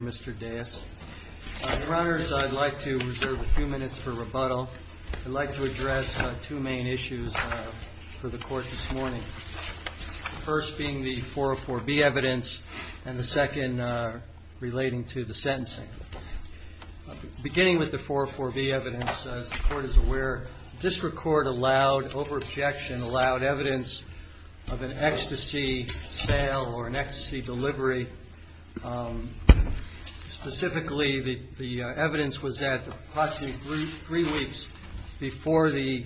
I'd like to reserve a few minutes for rebuttal. I'd like to address two main issues for the Court this morning, the first being the 404B evidence and the second relating to the sentencing. Beginning with the 404B evidence, as the Court is aware, the District Court allowed, over three weeks before the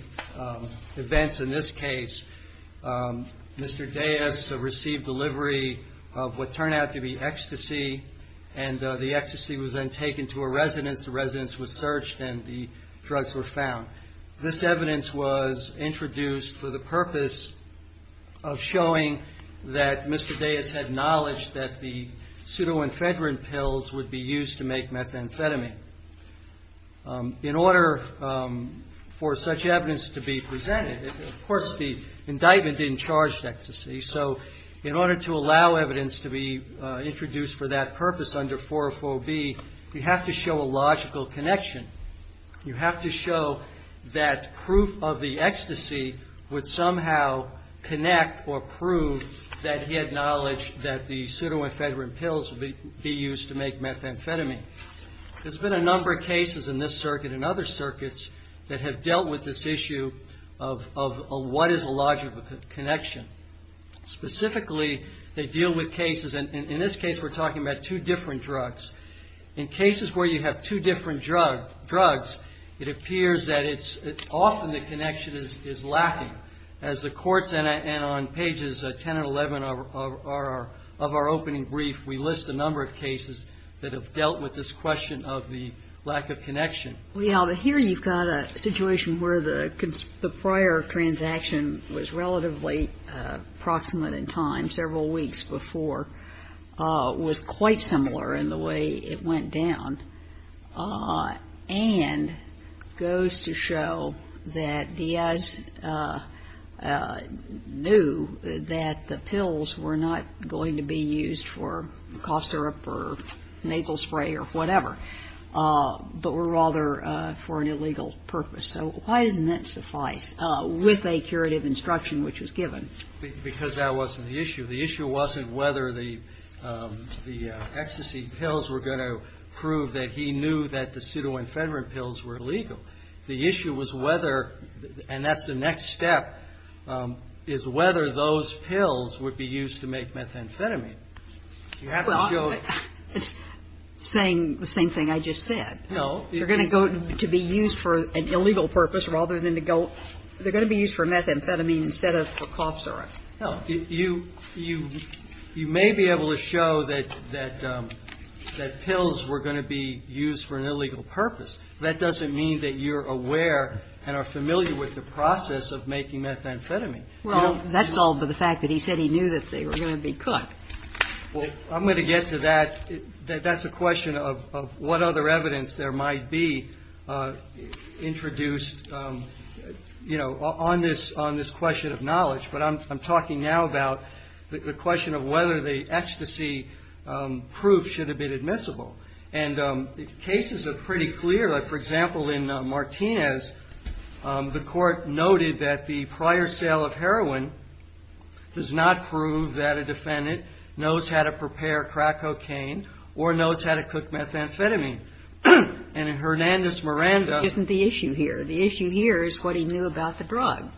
events in this case, Mr. Dais received delivery of what turned out to be ecstasy and the ecstasy was then taken to a residence. The residence was searched and the drugs were acknowledged that the pseudo-infedrin pills would be used to make methamphetamine. In order for such evidence to be presented, of course the indictment didn't charge ecstasy, so in order to allow evidence to be introduced for that purpose under 404B, you have to show a logical connection. You have to show that proof of the ecstasy would somehow connect or prove that he had knowledge that the pseudo-infedrin pills would be used to make methamphetamine. There's been a number of cases in this circuit and other circuits that have dealt with this issue of what is a logical connection. Specifically, they deal with cases, and in this case we're talking about two different drugs. In cases where you have two different drugs, it appears that it's often the connection is lacking. As the courts, and on pages 10 and 11 of our opening brief, we list a number of cases that have dealt with this question of the lack of connection. Well, yeah, but here you've got a situation where the prior transaction was relatively proximate in time, several weeks before, was quite similar in the way it went down, and goes to show that Diaz knew that the pills were not going to be used for cough syrup or nasal spray or whatever, but were rather for an illegal purpose. So why doesn't that suffice with a curative instruction which was given? Because that wasn't the issue. The issue wasn't whether the ecstasy pills were going to prove that he knew that the pseudo-infedrin pills were illegal. The issue was whether, and that's the next step, is whether those pills would be used to make methamphetamine. You have to show the other. It's saying the same thing I just said. No. They're going to go to be used for an illegal purpose rather than to go they're going to be used for methamphetamine instead of for cough syrup. No. You may be able to show that pills were going to be used for an illegal purpose. That doesn't mean that you're aware and are familiar with the process of making methamphetamine. Well, that's solved by the fact that he said he knew that they were going to be cut. Well, I'm going to get to that. That's a question of what other evidence there might be introduced on this question of knowledge. But I'm talking now about the question of whether the ecstasy proof should have been admissible. And cases are pretty clear. For example, in Martinez, the court noted that the prior sale of heroin does not prove that a defendant knows how to prepare crack cocaine or knows how to cook methamphetamine. And in Hernandez-Miranda the issue here is what he knew about the drug,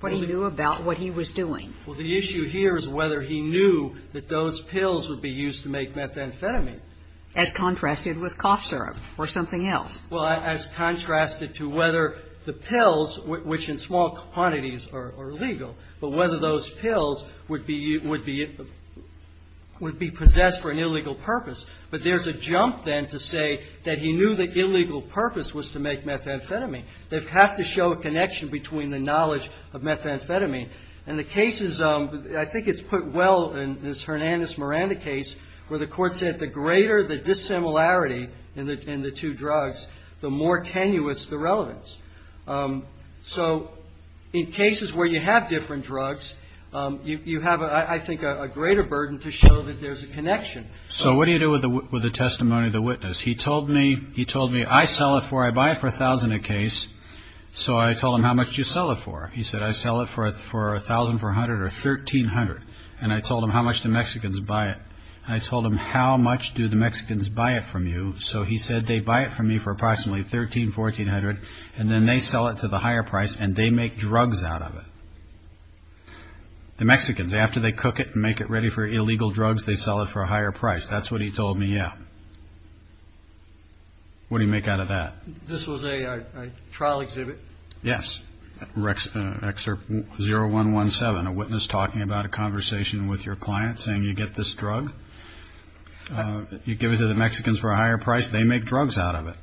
what he knew about what he was doing. Well, the issue here is whether he knew that those pills would be used to make methamphetamine. As contrasted with cough syrup or something else. Well, as contrasted to whether the pills, which in small quantities are illegal, but whether those pills would be possessed for an illegal purpose. But there's a jump then to say that he knew the illegal purpose was to make methamphetamine. They have to show a connection between the knowledge of methamphetamine. And the cases, I think it's put well in this Hernandez-Miranda case where the court said the greater the dissimilarity in the two drugs, the more tenuous the relevance. So in cases where you have different drugs, you have, I think, a greater burden to show that there's a connection. So what do you do with the testimony of the witness? He told me, he told me, I sell it for, I buy it for a thousand a case. So I told him, how much do you sell it for? He said, I sell it for a thousand for a hundred or thirteen hundred. And I told him how much the Mexicans buy it. I told him, how much do the Mexicans buy it from you? So he said, they buy it from me for approximately thirteen, fourteen hundred. And then they sell it to the higher price and they make drugs out of it. The Mexicans, after they cook it and make it ready for illegal drugs, they sell it for a higher price. That's what he told me. Yeah. What do you make out of that? This was a trial exhibit. Yes. Excerpt 0117, a witness talking about a conversation with your client saying you get this drug. You give it to the Mexicans for a higher price. They make drugs out of it.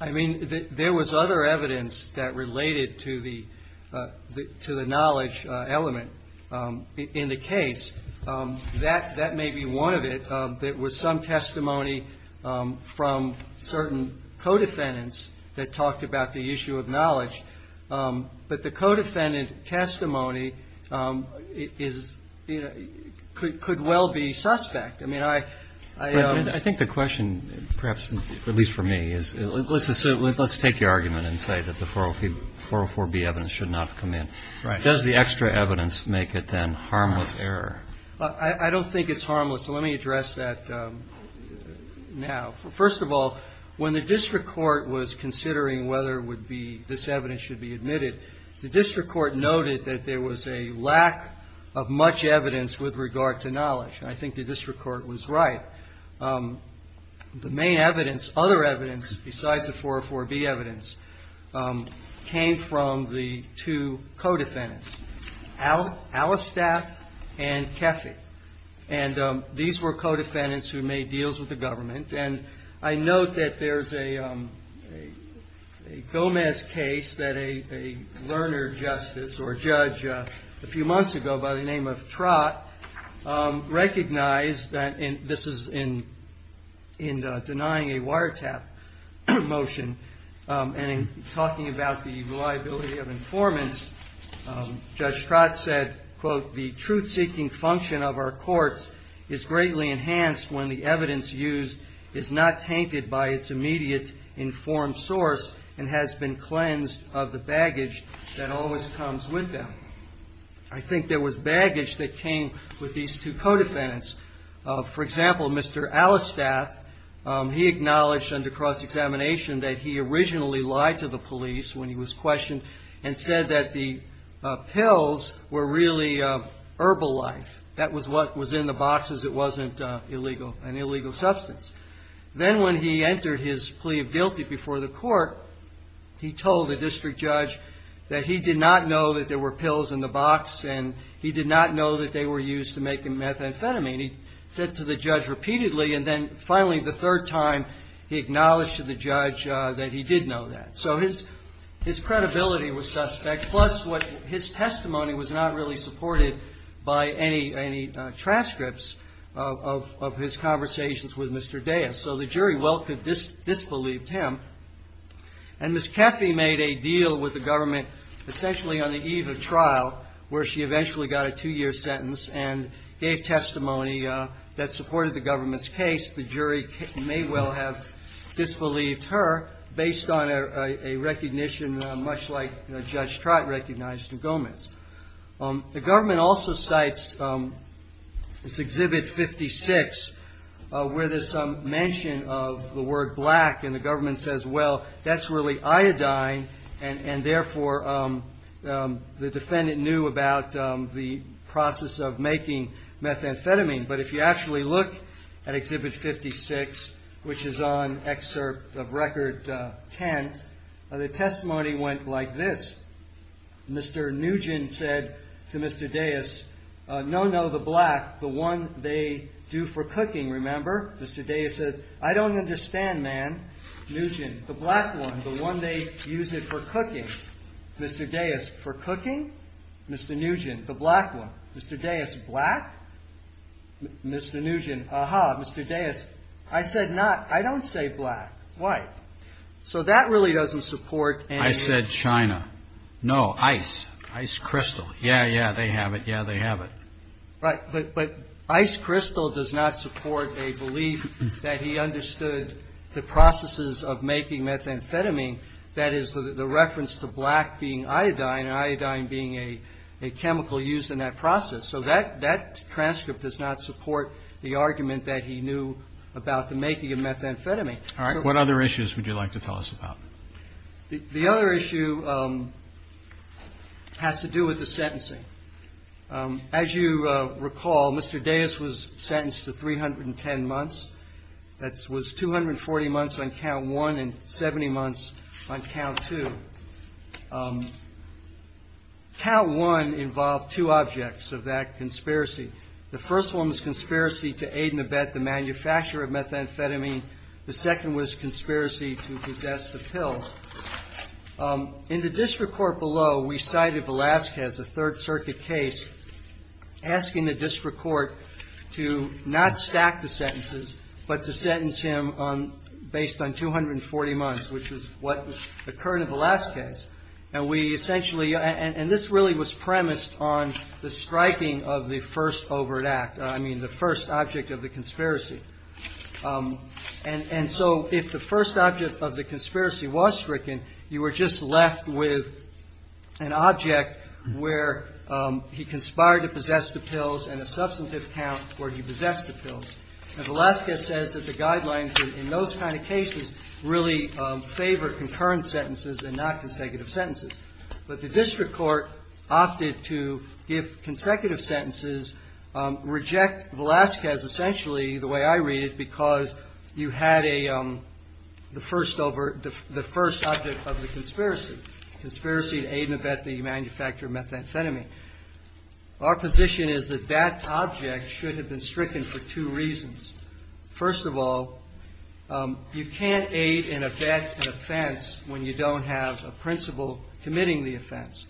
I mean, there was other evidence that related to the to the knowledge element in the case that that may be one of it. That was some testimony from certain co-defendants that talked about the issue of knowledge. But the co-defendant testimony is could well be suspect. I mean, I I think the question perhaps, at least for me, is let's assume let's take your argument and say that the 404B evidence should not come in. Right. Does the extra evidence make it then harmless error? I don't think it's harmless. Let me address that now. First of all, when the district court was considering whether it would be this evidence should be admitted, the district court noted that there was a lack of much evidence with regard to knowledge. I think the district court was right. The main evidence, other evidence besides the 404B evidence came from the two co-defendants, Allistaff and Keffey. And these were co-defendants who made deals with the government. And I note that there's a Gomez case that a learner justice or judge a few months ago by the name of Trott recognized that this is in denying a wiretap motion. And in talking about the reliability of informants, Judge Trott said, quote, the truth seeking function of our courts is greatly enhanced when the evidence used is not tainted by its immediate informed source and has been cleansed of the baggage that always comes with them. I think there was baggage that came with these two co-defendants. For example, Mr. Allistaff, he acknowledged under cross-examination that he originally lied to the police when he was questioned and said that the pills were really herbal life. That was what was in the boxes. It wasn't an illegal substance. Then when he entered his plea of guilty before the court, he told the district judge that he did not know that there were pills in the box, and he did not know that they were used to make methamphetamine. He said to the judge repeatedly, and then finally the third time, he acknowledged to the judge that he did know that. So his credibility was suspect, plus what his testimony was not really supported by any transcripts of his conversations with Mr. Dayas. So the jury well could disbelieve him. And Ms. Caffey made a deal with the government, essentially on the eve of trial, where she eventually got a two-year sentence and gave testimony that supported the government's case. The jury may well have disbelieved her based on a recognition much like Judge Trott recognized in Gomez. The government also cites this Exhibit 56 where there's some mention of the word black, and the government says, well, that's really iodine, and therefore the defendant knew about the process of making methamphetamine. But if you actually look at Exhibit 56, which is on Excerpt of Record 10, the testimony went like this. Mr. Nugent said to Mr. Dayas, no, no, the black, the one they do for cooking, remember? Mr. Dayas said, I don't understand, man. Nugent, the black one, the one they use it for cooking. Mr. Dayas, for cooking? Mr. Nugent, the black one. Mr. Dayas, black? Mr. Nugent, aha, Mr. Dayas, I said not, I don't say black, white. So that really doesn't support any- I said China. No, ice, ice crystal. Yeah, yeah, they have it. Yeah, they have it. Right, but ice crystal does not support a belief that he understood the processes of making methamphetamine. That is, the reference to black being iodine and iodine being a chemical used in that process. So that transcript does not support the argument that he knew about the making of methamphetamine. All right, what other issues would you like to tell us about? The other issue has to do with the sentencing. As you recall, Mr. Dayas was sentenced to 310 months. That was 240 months on count one and 70 months on count two. Count one involved two objects of that conspiracy. The first one was conspiracy to aid and abet the manufacturer of methamphetamine. The second was conspiracy to possess the pills. In the district court below, we cited Velazquez, a Third Circuit case, asking the district court to not stack the sentences, but to sentence him based on 240 months, which is what occurred in Velazquez. And we essentially- and this really was premised on the striking of the first overt act, I mean, the first object of the conspiracy. And so if the first object of the conspiracy was stricken, you were just left with an object where he conspired to possess the pills and a substantive count where he possessed the pills. And Velazquez says that the guidelines in those kind of cases really favor concurrent sentences and not consecutive sentences. But the district court opted to give consecutive sentences, reject Velazquez essentially the way I read it, because you had the first object of the conspiracy, conspiracy to aid and abet the manufacturer of methamphetamine. Our position is that that object should have been stricken for two reasons. First of all, you can't aid and abet an offense when you don't have a principal committing the offense.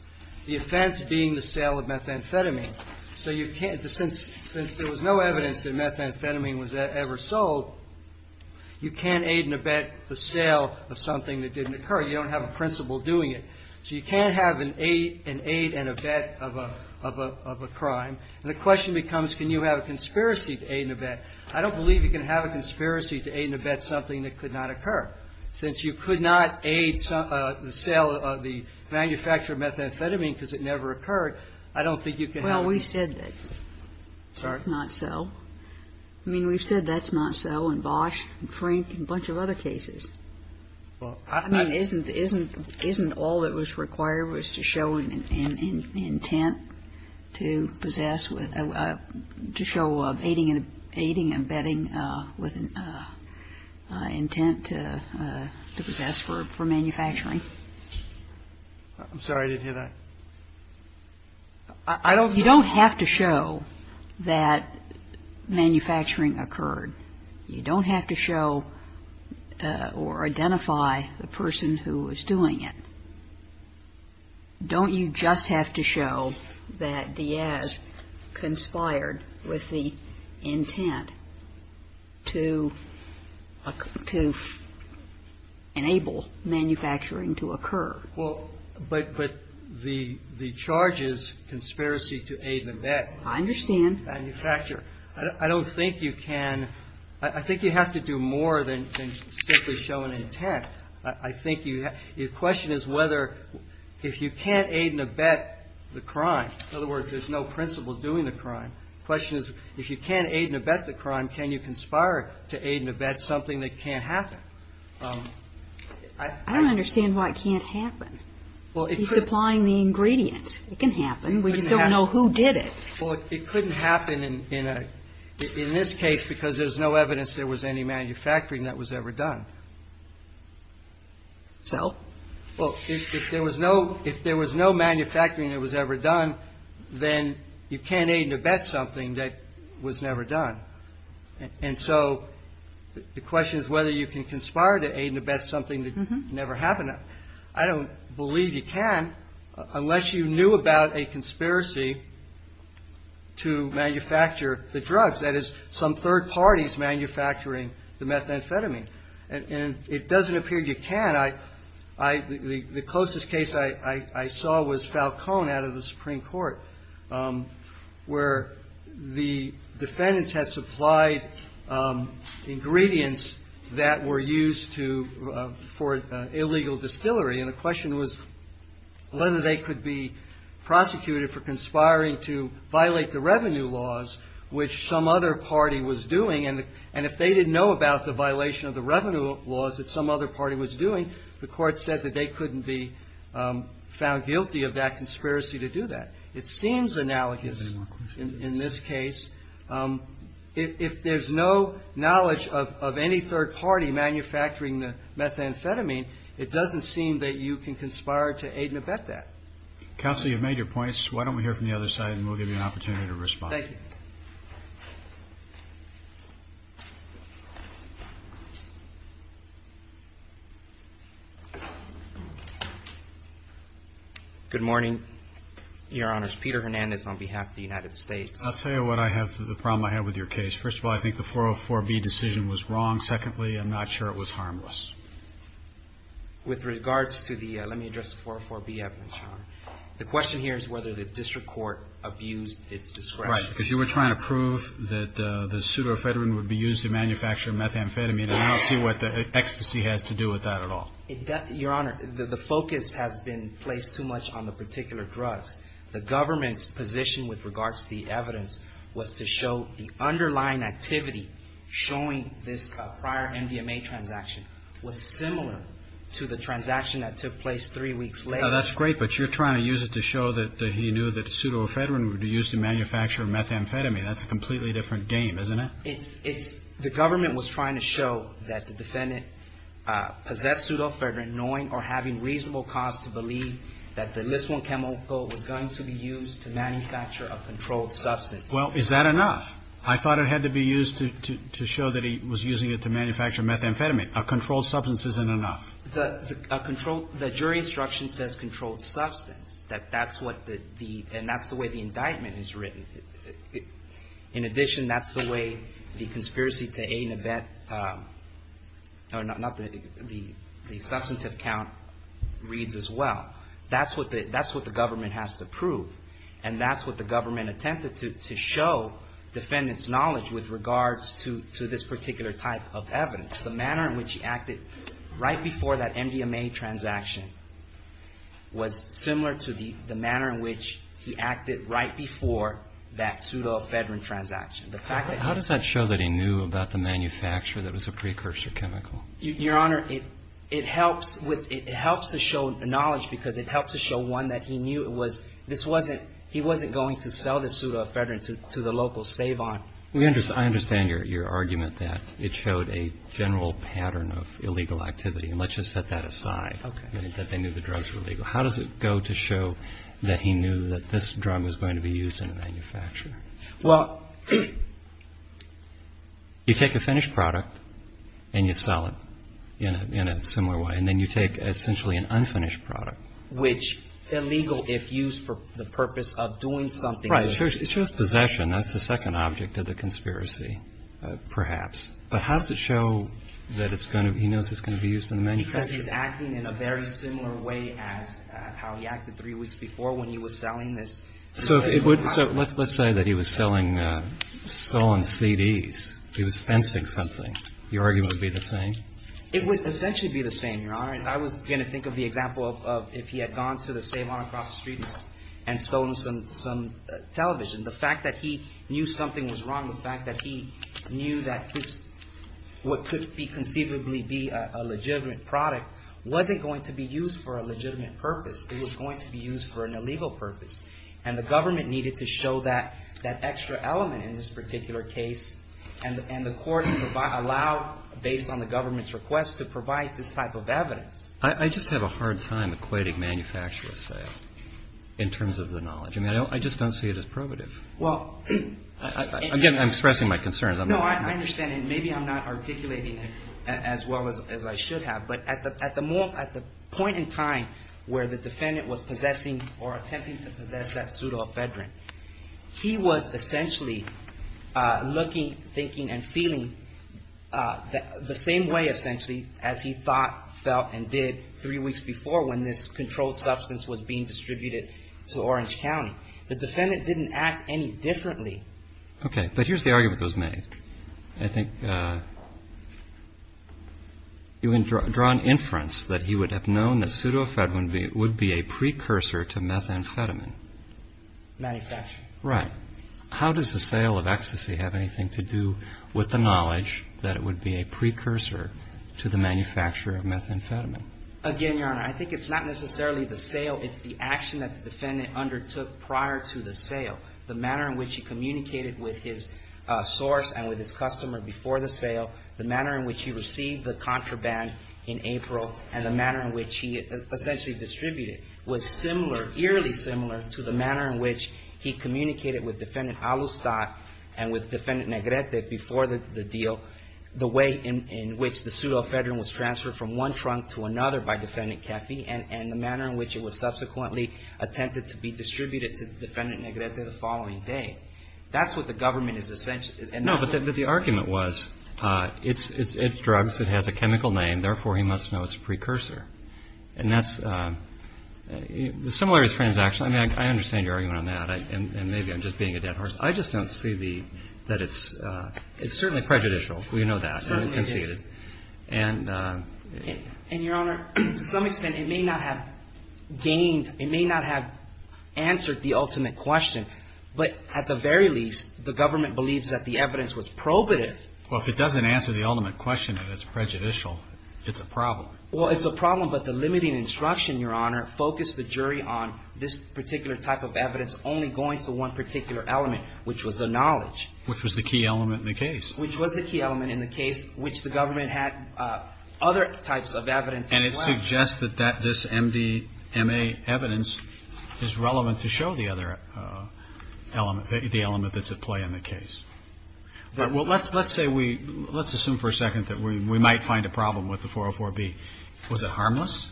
The offense being the sale of methamphetamine. So you can't- since there was no evidence that methamphetamine was ever sold, you can't aid and abet the sale of something that didn't occur. You don't have a principal doing it. So you can't have an aid and abet of a crime. And the question becomes, can you have a conspiracy to aid and abet? I don't believe you can have a conspiracy to aid and abet something that could not occur. Since you could not aid the sale of the manufacturer of methamphetamine because it never occurred, I don't think you can have- Well, we've said that. Sorry? It's not so. I mean, we've said that's not so in Bosch and Frink and a bunch of other cases. Well, I- I mean, isn't all that was required was to show an intent to possess with a- to show of aiding and abetting with an intent to possess for manufacturing? I'm sorry. I didn't hear that. I don't- You don't have to show that manufacturing occurred. You don't have to show or identify the person who was doing it. Don't you just have to show that Diaz conspired with the intent to- to enable manufacturing to occur? Well, but- but the- the charges, conspiracy to aid and abet- I understand. Manufacturer. I don't think you can- I think you have to do more than simply show an intent. I think you- the question is whether if you can't aid and abet the crime, in other words, there's no principle doing the crime, the question is if you can't aid and abet the crime, can you conspire to aid and abet something that can't happen? I don't understand why it can't happen. Well, it's- Supplying the ingredients. It can happen. We just don't know who did it. Well, it couldn't happen in a- in this case because there's no evidence there was any manufacturing that was ever done. So? Well, if there was no- if there was no manufacturing that was ever done, then you can't aid and abet something that was never done. And so the question is whether you can conspire to aid and abet something that never happened. I don't believe you can unless you knew about a conspiracy to manufacture the drugs, that is, some third parties manufacturing the methamphetamine. And it doesn't appear you can. I- the closest case I saw was Falcone out of the Supreme Court, where the defendants had supplied ingredients that were used to- for illegal distillery. And the question was whether they could be prosecuted for conspiring to violate the revenue laws, which some other party was doing. And if they didn't know about the violation of the revenue laws that some other party was doing, the court said that they couldn't be found guilty of that conspiracy to do that. It seems analogous in this case. If there's no knowledge of any third party manufacturing the methamphetamine, it doesn't seem that you can conspire to aid and abet that. Counsel, you've made your points. Why don't we hear from the other side and we'll give you an opportunity to respond. Thank you. Good morning, Your Honors. Peter Hernandez on behalf of the United States. I'll tell you what I have- the problem I have with your case. First of all, I think the 404B decision was wrong. Secondly, I'm not sure it was harmless. With regards to the- let me address the 404B evidence, Your Honor. The question here is whether the district court abused its discretion. Right. Because you were trying to prove that the pseudoephedrine would be used to manufacture methamphetamine, and I don't see what the ecstasy has to do with that at all. Your Honor, the focus has been placed too much on the particular drugs. The government's position with regards to the evidence was to show the underlying activity showing this prior MDMA transaction was similar to the transaction that took place three weeks later. That's great, but you're trying to use it to show that he knew that the pseudoephedrine would be used to manufacture methamphetamine. That's a completely different game, isn't it? It's- it's- the government was trying to show that the defendant possessed pseudoephedrine knowing or having reasonable cause to believe that the Lysolone chemical was going to be used to manufacture a controlled substance. Well, is that enough? I thought it had to be used to- to show that he was using it to manufacture methamphetamine. A controlled substance isn't enough. The- a controlled- the jury instruction says controlled substance, that that's what the- the- and that's the way the indictment is written. In addition, that's the way the conspiracy to aid and abet- or not the- the- the substantive count reads as well. That's what the- that's what the government has to prove, and that's what the government attempted to- to show defendants' knowledge with regards to- to this particular type of evidence. The manner in which he acted right before that MDMA transaction was similar to the- the manner in which he acted right before that pseudoephedrine transaction. The fact that- How does that show that he knew about the manufacturer that was a precursor chemical? Your Honor, it- it helps with- it helps to show knowledge because it helps to show one that he knew it was- this wasn't- he wasn't going to sell the pseudoephedrine to- to the local Stavon. We understand- I understand your- your argument that it showed a general pattern of illegal activity, and let's just set that aside. Okay. That they knew the drugs were legal. How does it go to show that he knew that this drug was going to be used in the manufacturer? Well- You take a finished product and you sell it in a- in a similar way, and then you take essentially an unfinished product. Which illegal if used for the purpose of doing something- Right. It shows- it shows possession. That's the second object of the conspiracy, perhaps. But how does it show that it's going to- he knows it's going to be used in the manufacturer? Because he's acting in a very similar way as how he acted three weeks before when he was selling this- So if it would- so let's- let's say that he was selling stolen CDs. He was fencing something. Your argument would be the same? It would essentially be the same, Your Honor. I was going to think of the example of- of if he had gone to the Stavon across the street and stolen some- some television, the fact that he knew something was wrong, the fact that he knew that his- what could be conceivably be a- a legitimate product wasn't going to be used for a legitimate purpose. It was going to be used for an illegal purpose. And the government needed to show that- that extra element in this particular case, and- and the court allowed, based on the government's request, to provide this type of evidence. I- I just have a hard time equating manufacturer's sale in terms of the knowledge. I mean, I don't- I just don't see it as probative. Well- Again, I'm expressing my concerns. I'm not- No, I understand, and maybe I'm not articulating it as well as- as I should have, but at the- at the more- at the point in time where the defendant was possessing or attempting to possess that pseudoephedrine, he was essentially looking, thinking, and feeling the same way, essentially, as he thought, felt, and did three weeks before when this controlled substance was being distributed to Orange County. The defendant didn't act any differently. Okay. But here's the argument that was made. I think you had drawn inference that he would have known that pseudoephedrine would be a precursor to methamphetamine. Manufacture. Right. How does the sale of ecstasy have anything to do with the knowledge that it would be a precursor to the manufacture of methamphetamine? Again, Your Honor, I think it's not necessarily the sale. It's the action that the defendant undertook prior to the sale. The manner in which he communicated with his source and with his customer before the sale, the manner in which he received the contraband in April, and the manner in which he essentially distributed was similar, eerily similar, to the manner in which he communicated with Defendant Alustad and with Defendant Negrete before the- the deal, the way in- in which the pseudoephedrine was transferred from one trunk to another by Defendant Caffey, and- and the manner in which it was the following day. That's what the government is essenti- No, but- but the argument was it's- it's- it's drugs. It has a chemical name, therefore, he must know it's a precursor. And that's- the similarities transaction. I mean, I understand your argument on that. And- and maybe I'm just being a dead horse. I just don't see the- that it's- it's certainly prejudicial. We know that. Certainly, it is. And it conceded. And- And Your Honor, to some extent, it may not have gained- it may not have answered the ultimate question. But at the very least, the government believes that the evidence was probative. Well, if it doesn't answer the ultimate question and it's prejudicial, it's a problem. Well, it's a problem. But the limiting instruction, Your Honor, focused the jury on this particular type of evidence only going to one particular element, which was the knowledge. Which was the key element in the case. Which was the key element in the case, which the government had other types of evidence. And it suggests that that- this MDMA evidence is relevant to show the other element- the element that's at play in the case. Well, let's- let's say we- let's assume for a second that we- we might find a problem with the 404B. Was it harmless?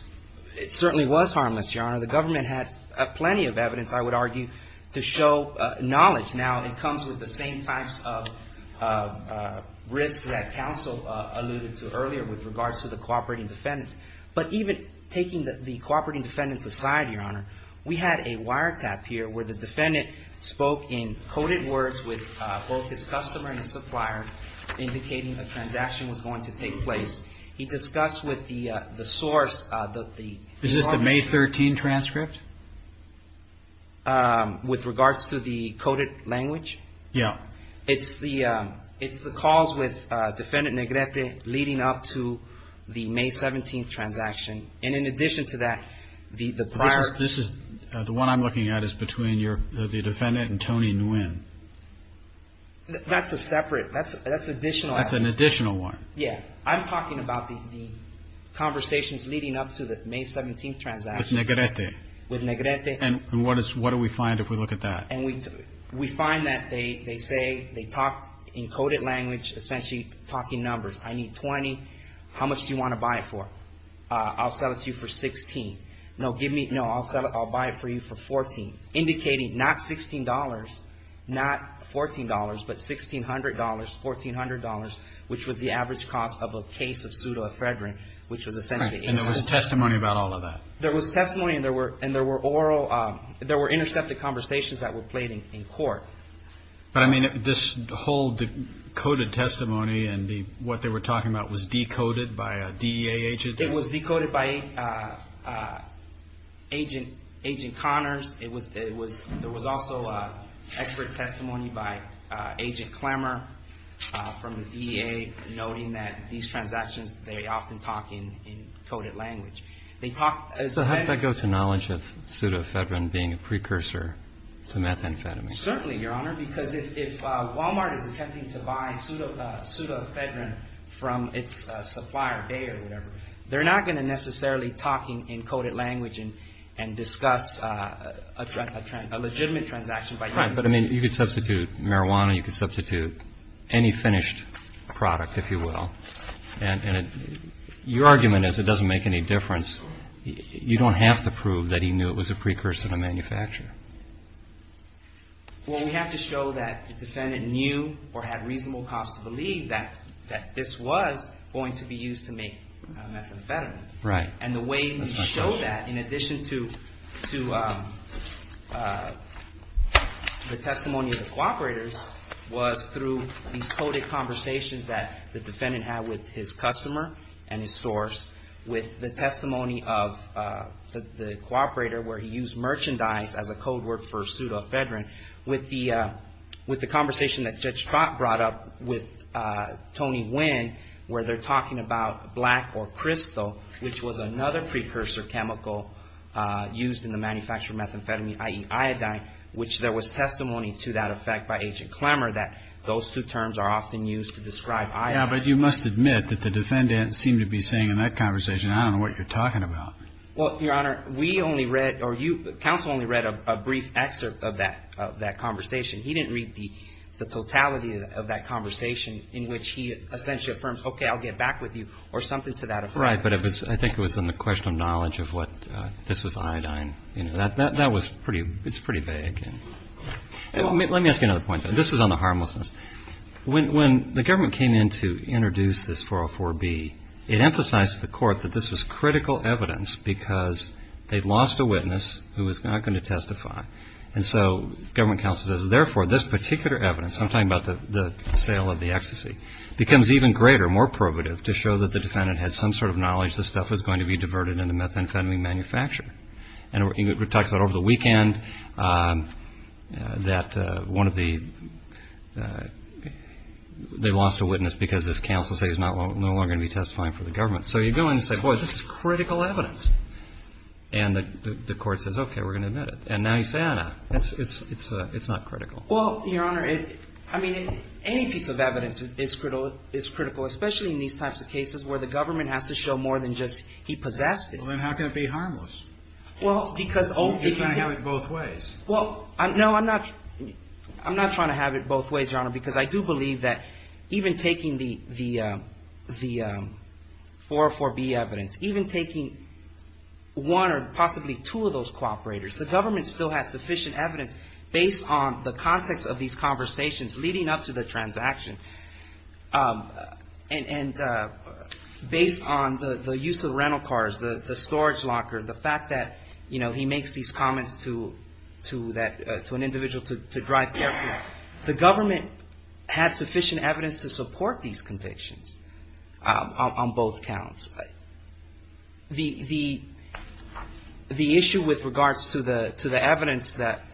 It certainly was harmless, Your Honor. The government had plenty of evidence, I would argue, to show knowledge. Now, it comes with the same types of risks that counsel alluded to earlier with regards to the cooperating defendants. But even taking the- the cooperating defendants aside, Your Honor, we had a wiretap here where the defendant spoke in coded words with both his customer and his supplier, indicating a transaction was going to take place. He discussed with the- the source that the- Is this the May 13 transcript? With regards to the coded language? Yeah. It's the- it's the calls with Defendant Negrete leading up to the May 17th transaction. And in addition to that, the- the prior- This is- the one I'm looking at is between your- the defendant and Tony Nguyen. That's a separate- that's- that's additional evidence. That's an additional one. Yeah. I'm talking about the- the conversations leading up to the May 17th transaction. With Negrete. With Negrete. And what is- what do we find if we look at that? And we- we find that they- they say- they talk in coded language, essentially talking numbers. I need 20. How much do you want to buy it for? I'll sell it to you for 16. No, give me- no, I'll sell it- I'll buy it for you for 14. Indicating not $16, not $14, but $1,600, $1,400, which was the average cost of a case of pseudo ephedrine, which was essentially- And there was testimony about all of that? There was testimony and there were- and there were oral- there were intercepted conversations that were played in- in court. But I mean, this whole decoded testimony and the- what they were talking about was decoded by a DEA agent? It was decoded by agent- agent Connors. It was- it was- there was also expert testimony by agent Klammer from the DEA noting that these transactions, they often talk in- in coded language. They talk as- to methamphetamine. Certainly, Your Honor, because if- if Walmart is attempting to buy pseudo- pseudo- ephedrine from its supplier, Bayer or whatever, they're not going to necessarily talking in coded language and- and discuss a- a legitimate transaction by- Right, but I mean, you could substitute marijuana, you could substitute any finished product, if you will, and- and your argument is it doesn't make any difference. You don't have to prove that he knew it was a precursor to manufacture. Well, we have to show that the defendant knew or had reasonable cause to believe that- that this was going to be used to make methamphetamine. Right. And the way we show that, in addition to- to the testimony of the cooperators, was through these coded conversations that the defendant had with his customer and his source, with the testimony of the- the cooperator where he used merchandise as a code word for pseudo-ephedrine, with the- with the conversation that Judge Trott brought up with Tony Nguyen, where they're talking about black or crystal, which was another precursor chemical used in the manufacture of methamphetamine, i.e. iodine, which there was testimony to that effect by Agent Clemmer that those two terms are often used to describe iodine. Yeah, but you must admit that the defendant seemed to be saying in that conversation, I don't know what you're talking about. Well, Your Honor, we only read, or you- counsel only read a brief excerpt of that- of that conversation. He didn't read the- the totality of that conversation in which he essentially affirmed, okay, I'll get back with you, or something to that effect. Right. But it was- I think it was in the question of knowledge of what- this was iodine. You know, that- that was pretty- it's pretty vague. Let me ask you another point. This is on the harmlessness. When the government came in to introduce this 404B, it emphasized to the court that this was critical evidence because they'd lost a witness who was not going to testify. And so government counsel says, therefore, this particular evidence, I'm talking about the sale of the ecstasy, becomes even greater, more probative, to show that the defendant had some sort of knowledge this stuff was going to be diverted into methamphetamine manufacture. And we talked about over the weekend that one of the- they lost a witness because this counsel says he's no longer going to be testifying for the government. So you go in and say, boy, this is critical evidence. And the court says, okay, we're going to admit it. And now you say, ah, it's not critical. Well, Your Honor, I mean, any piece of evidence is critical, especially in these types of cases where the government has to show more than just he possessed it. Well, then how can it be harmless? Well, because- If I have it both ways. Well, no, I'm not- I'm not trying to have it both ways, Your Honor, because I do believe that even taking the 404B evidence, even taking one or possibly two of those cooperators, the government still has sufficient evidence based on the context of these conversations leading up to the transaction and based on the use of rental cars, the storage locker, the fact that, you know, he makes these comments to that- to an individual to drive carefully. The government had sufficient evidence to support these convictions on both counts. The issue with regards to the evidence that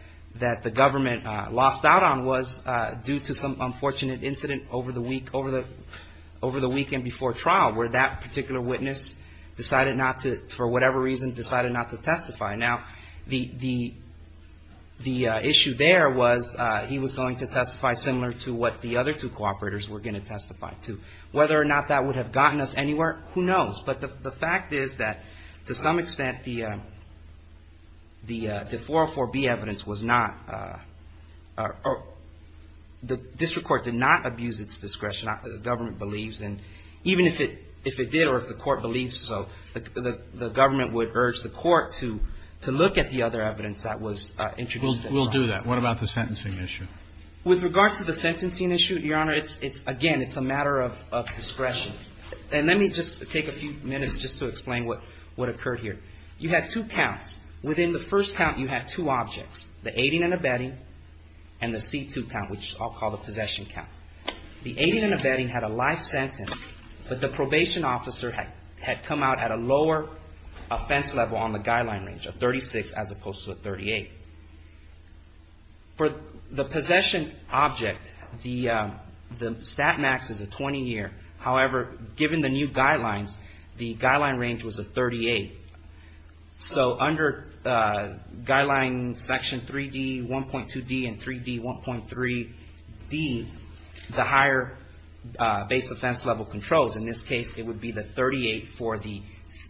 the government lost out on was due to some unfortunate incident over the week- over the weekend before trial where that particular witness decided not to, for whatever reason, decided not to testify. Now, the issue there was he was going to testify similar to what the other two cooperators were going to testify to. Whether or not that would have gotten us anywhere, who knows? But the fact is that, to some extent, the 404B evidence was not- the district court did not abuse its discretion, the government believes. And even if it did or if the court believes so, the government would urge the district court to look at the other evidence that was introduced. We'll do that. What about the sentencing issue? With regards to the sentencing issue, Your Honor, it's- again, it's a matter of discretion. And let me just take a few minutes just to explain what occurred here. You had two counts. Within the first count, you had two objects, the aiding and abetting and the C2 count, which I'll call the possession count. The aiding and abetting had a life sentence, but the probation officer had come out at a lower offense level on the guideline range, a 36 as opposed to a 38. For the possession object, the stat max is a 20-year. However, given the new guidelines, the guideline range was a 38. So under guideline section 3D, 1.2D, and 3D, 1.3D, the higher base offense level controls. In this case, it would be the 38 for the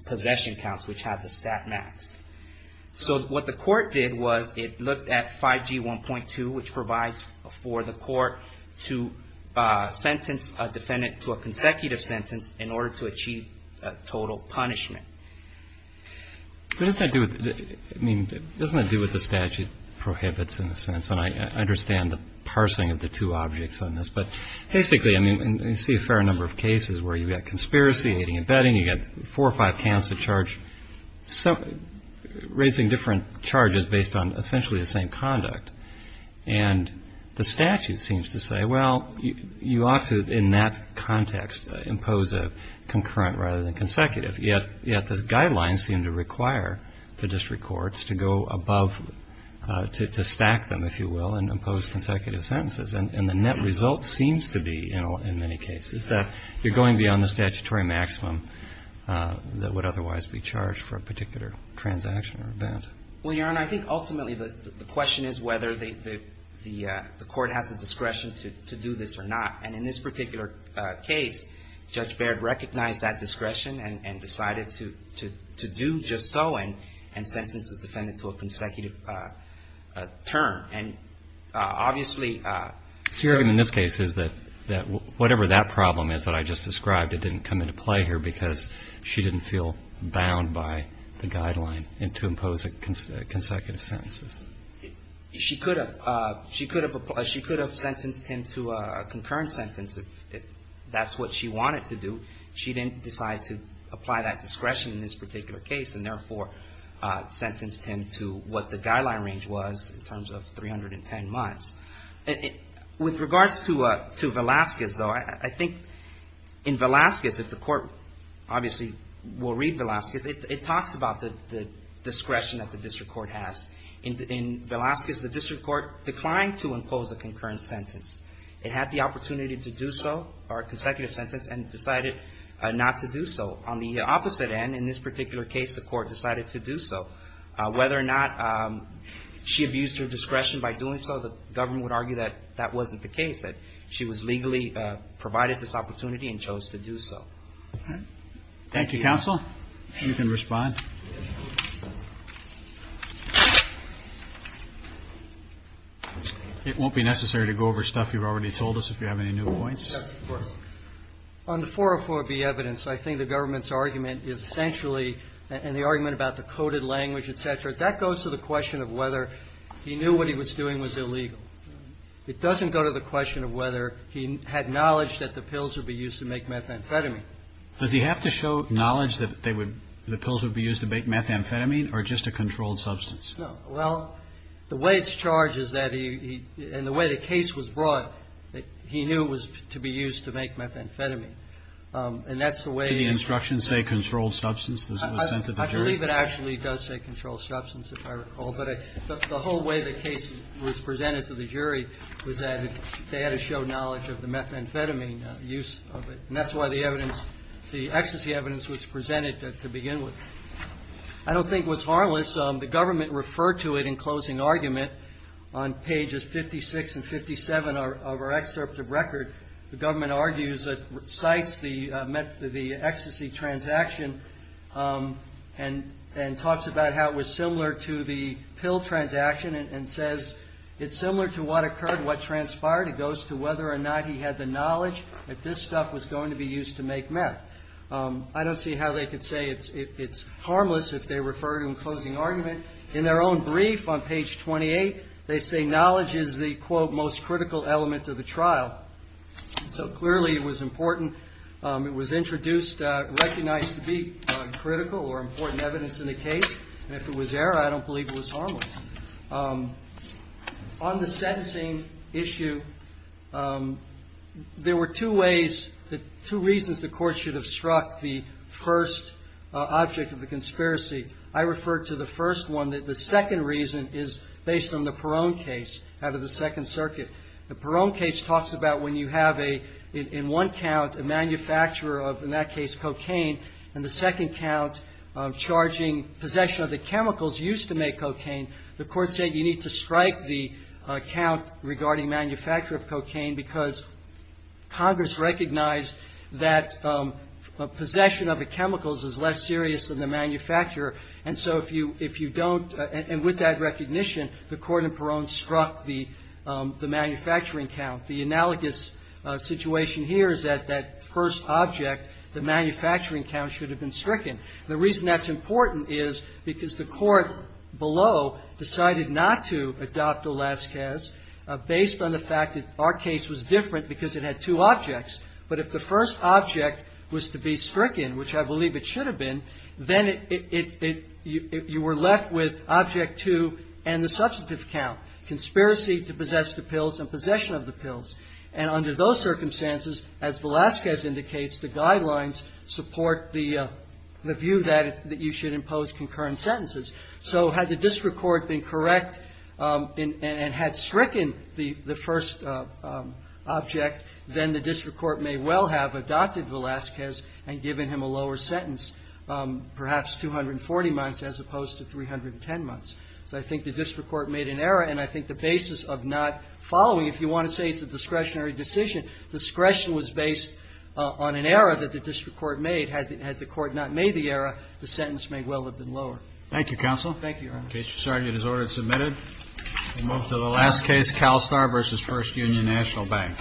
possession counts, which have the stat max. So what the court did was it looked at 5G1.2, which provides for the court to sentence a defendant to a consecutive sentence in order to achieve a total punishment. But doesn't that do with- I mean, doesn't that do with the statute prohibits in a sense? And I understand the parsing of the two objects on this, but basically, I mean, you see a fair number of cases where you've got conspiracy, aiding and abetting. You've got four or five counts that charge- raising different charges based on essentially the same conduct. And the statute seems to say, well, you ought to, in that context, impose a concurrent rather than consecutive. Yet the guidelines seem to require the district courts to go above- to stack them, if you will, and impose consecutive sentences. And the net result seems to be, in many cases, that you're going beyond the statutory maximum that would otherwise be charged for a particular transaction or event. Well, Your Honor, I think ultimately the question is whether the court has the discretion to do this or not. And in this particular case, Judge Baird recognized that discretion and decided to do just so and sentence the defendant to a consecutive term. And obviously- So your argument in this case is that whatever that problem is that I just described, it didn't come into play here because she didn't feel bound by the guideline to impose consecutive sentences? She could have. She could have sentenced him to a concurrent sentence if that's what she wanted to do. She didn't decide to apply that discretion in this particular case and therefore sentenced him to what the guideline range was in terms of 310 months. With regards to Velazquez, though, I think in Velazquez, if the court obviously will read Velazquez, it talks about the discretion that the district court has. In Velazquez, the district court declined to impose a concurrent sentence. It had the opportunity to do so, or a consecutive sentence, and decided not to do so. On the opposite end, in this particular case, the court decided to do so. Whether or not she abused her discretion by doing so, the government would argue that that wasn't the case, that she was legally provided this opportunity and chose to do so. Thank you, counsel. You can respond. It won't be necessary to go over stuff you've already told us if you have any new points. Yes, of course. On the 404B evidence, I think the government's argument is essentially, and the argument about the coded language, et cetera, that goes to the question of whether he knew what he was doing was illegal. It doesn't go to the question of whether he had knowledge that the pills would be used to make methamphetamine. Does he have to show knowledge that the pills would be used to make methamphetamine or just a controlled substance? No. Well, the way it's charged is that he, and the way the case was brought, he knew it was to be used to make methamphetamine. And that's the way the instructions say controlled substance. I believe it actually does say controlled substance, if I recall. But the whole way the case was presented to the jury was that they had to show knowledge of the methamphetamine use of it. And that's why the evidence, the ecstasy evidence was presented to begin with. I don't think it was harmless. The government referred to it in closing argument on pages 56 and 57 of our excerpt of record. The government argues it cites the met, the ecstasy transaction and talks about how it was similar to the pill transaction and says it's similar to what occurred, what transpired. It goes to whether or not he had the knowledge that this stuff was going to be used to make meth. I don't see how they could say it's harmless if they refer to in closing argument. In their own brief on page 28, they say knowledge is the quote most critical element of the trial. So clearly it was important. It was introduced, recognized to be critical or important evidence in the case. And if it was there, I don't believe it was harmless. On the sentencing issue, there were two ways, two reasons the court should have struck the first object of the conspiracy. I refer to the first one that the second reason is based on the Perrone case out of the Second Circuit. The Perrone case talks about when you have a, in one count, a manufacturer of, in that case, cocaine, and the second count charging possession of the chemicals used to make cocaine. The court said you need to strike the count regarding manufacture of cocaine because Congress recognized that possession of the chemicals is less serious than the manufacturer. And so if you don't, and with that recognition, the court in Perrone struck the manufacturing count. The analogous situation here is that that first object, the manufacturing count, should have been stricken. The reason that's important is because the court below decided not to adopt Olaskaz based on the fact that our case was different because it had two objects. But if the first object was to be stricken, which I believe it should have been, then it, you were left with object two and the substantive count, conspiracy to possess the pills and possession of the pills. And under those circumstances, as Olaskaz indicates, the guidelines support the view that you should impose concurrent sentences. So had the district court been correct and had stricken the first object, then the district court may well have adopted Olaskaz and given him a lower sentence, perhaps 240 months as opposed to 310 months. So I think the district court made an error, and I think the basis of not following, if you want to say it's a discretionary decision, discretion was based on an error that the district court made. Had the court not made the error, the sentence may well have been lower. Thank you, Counsel. Thank you, Your Honor. The case has already been submitted. We move to the last case, CalSTAR v. First Union National Bank.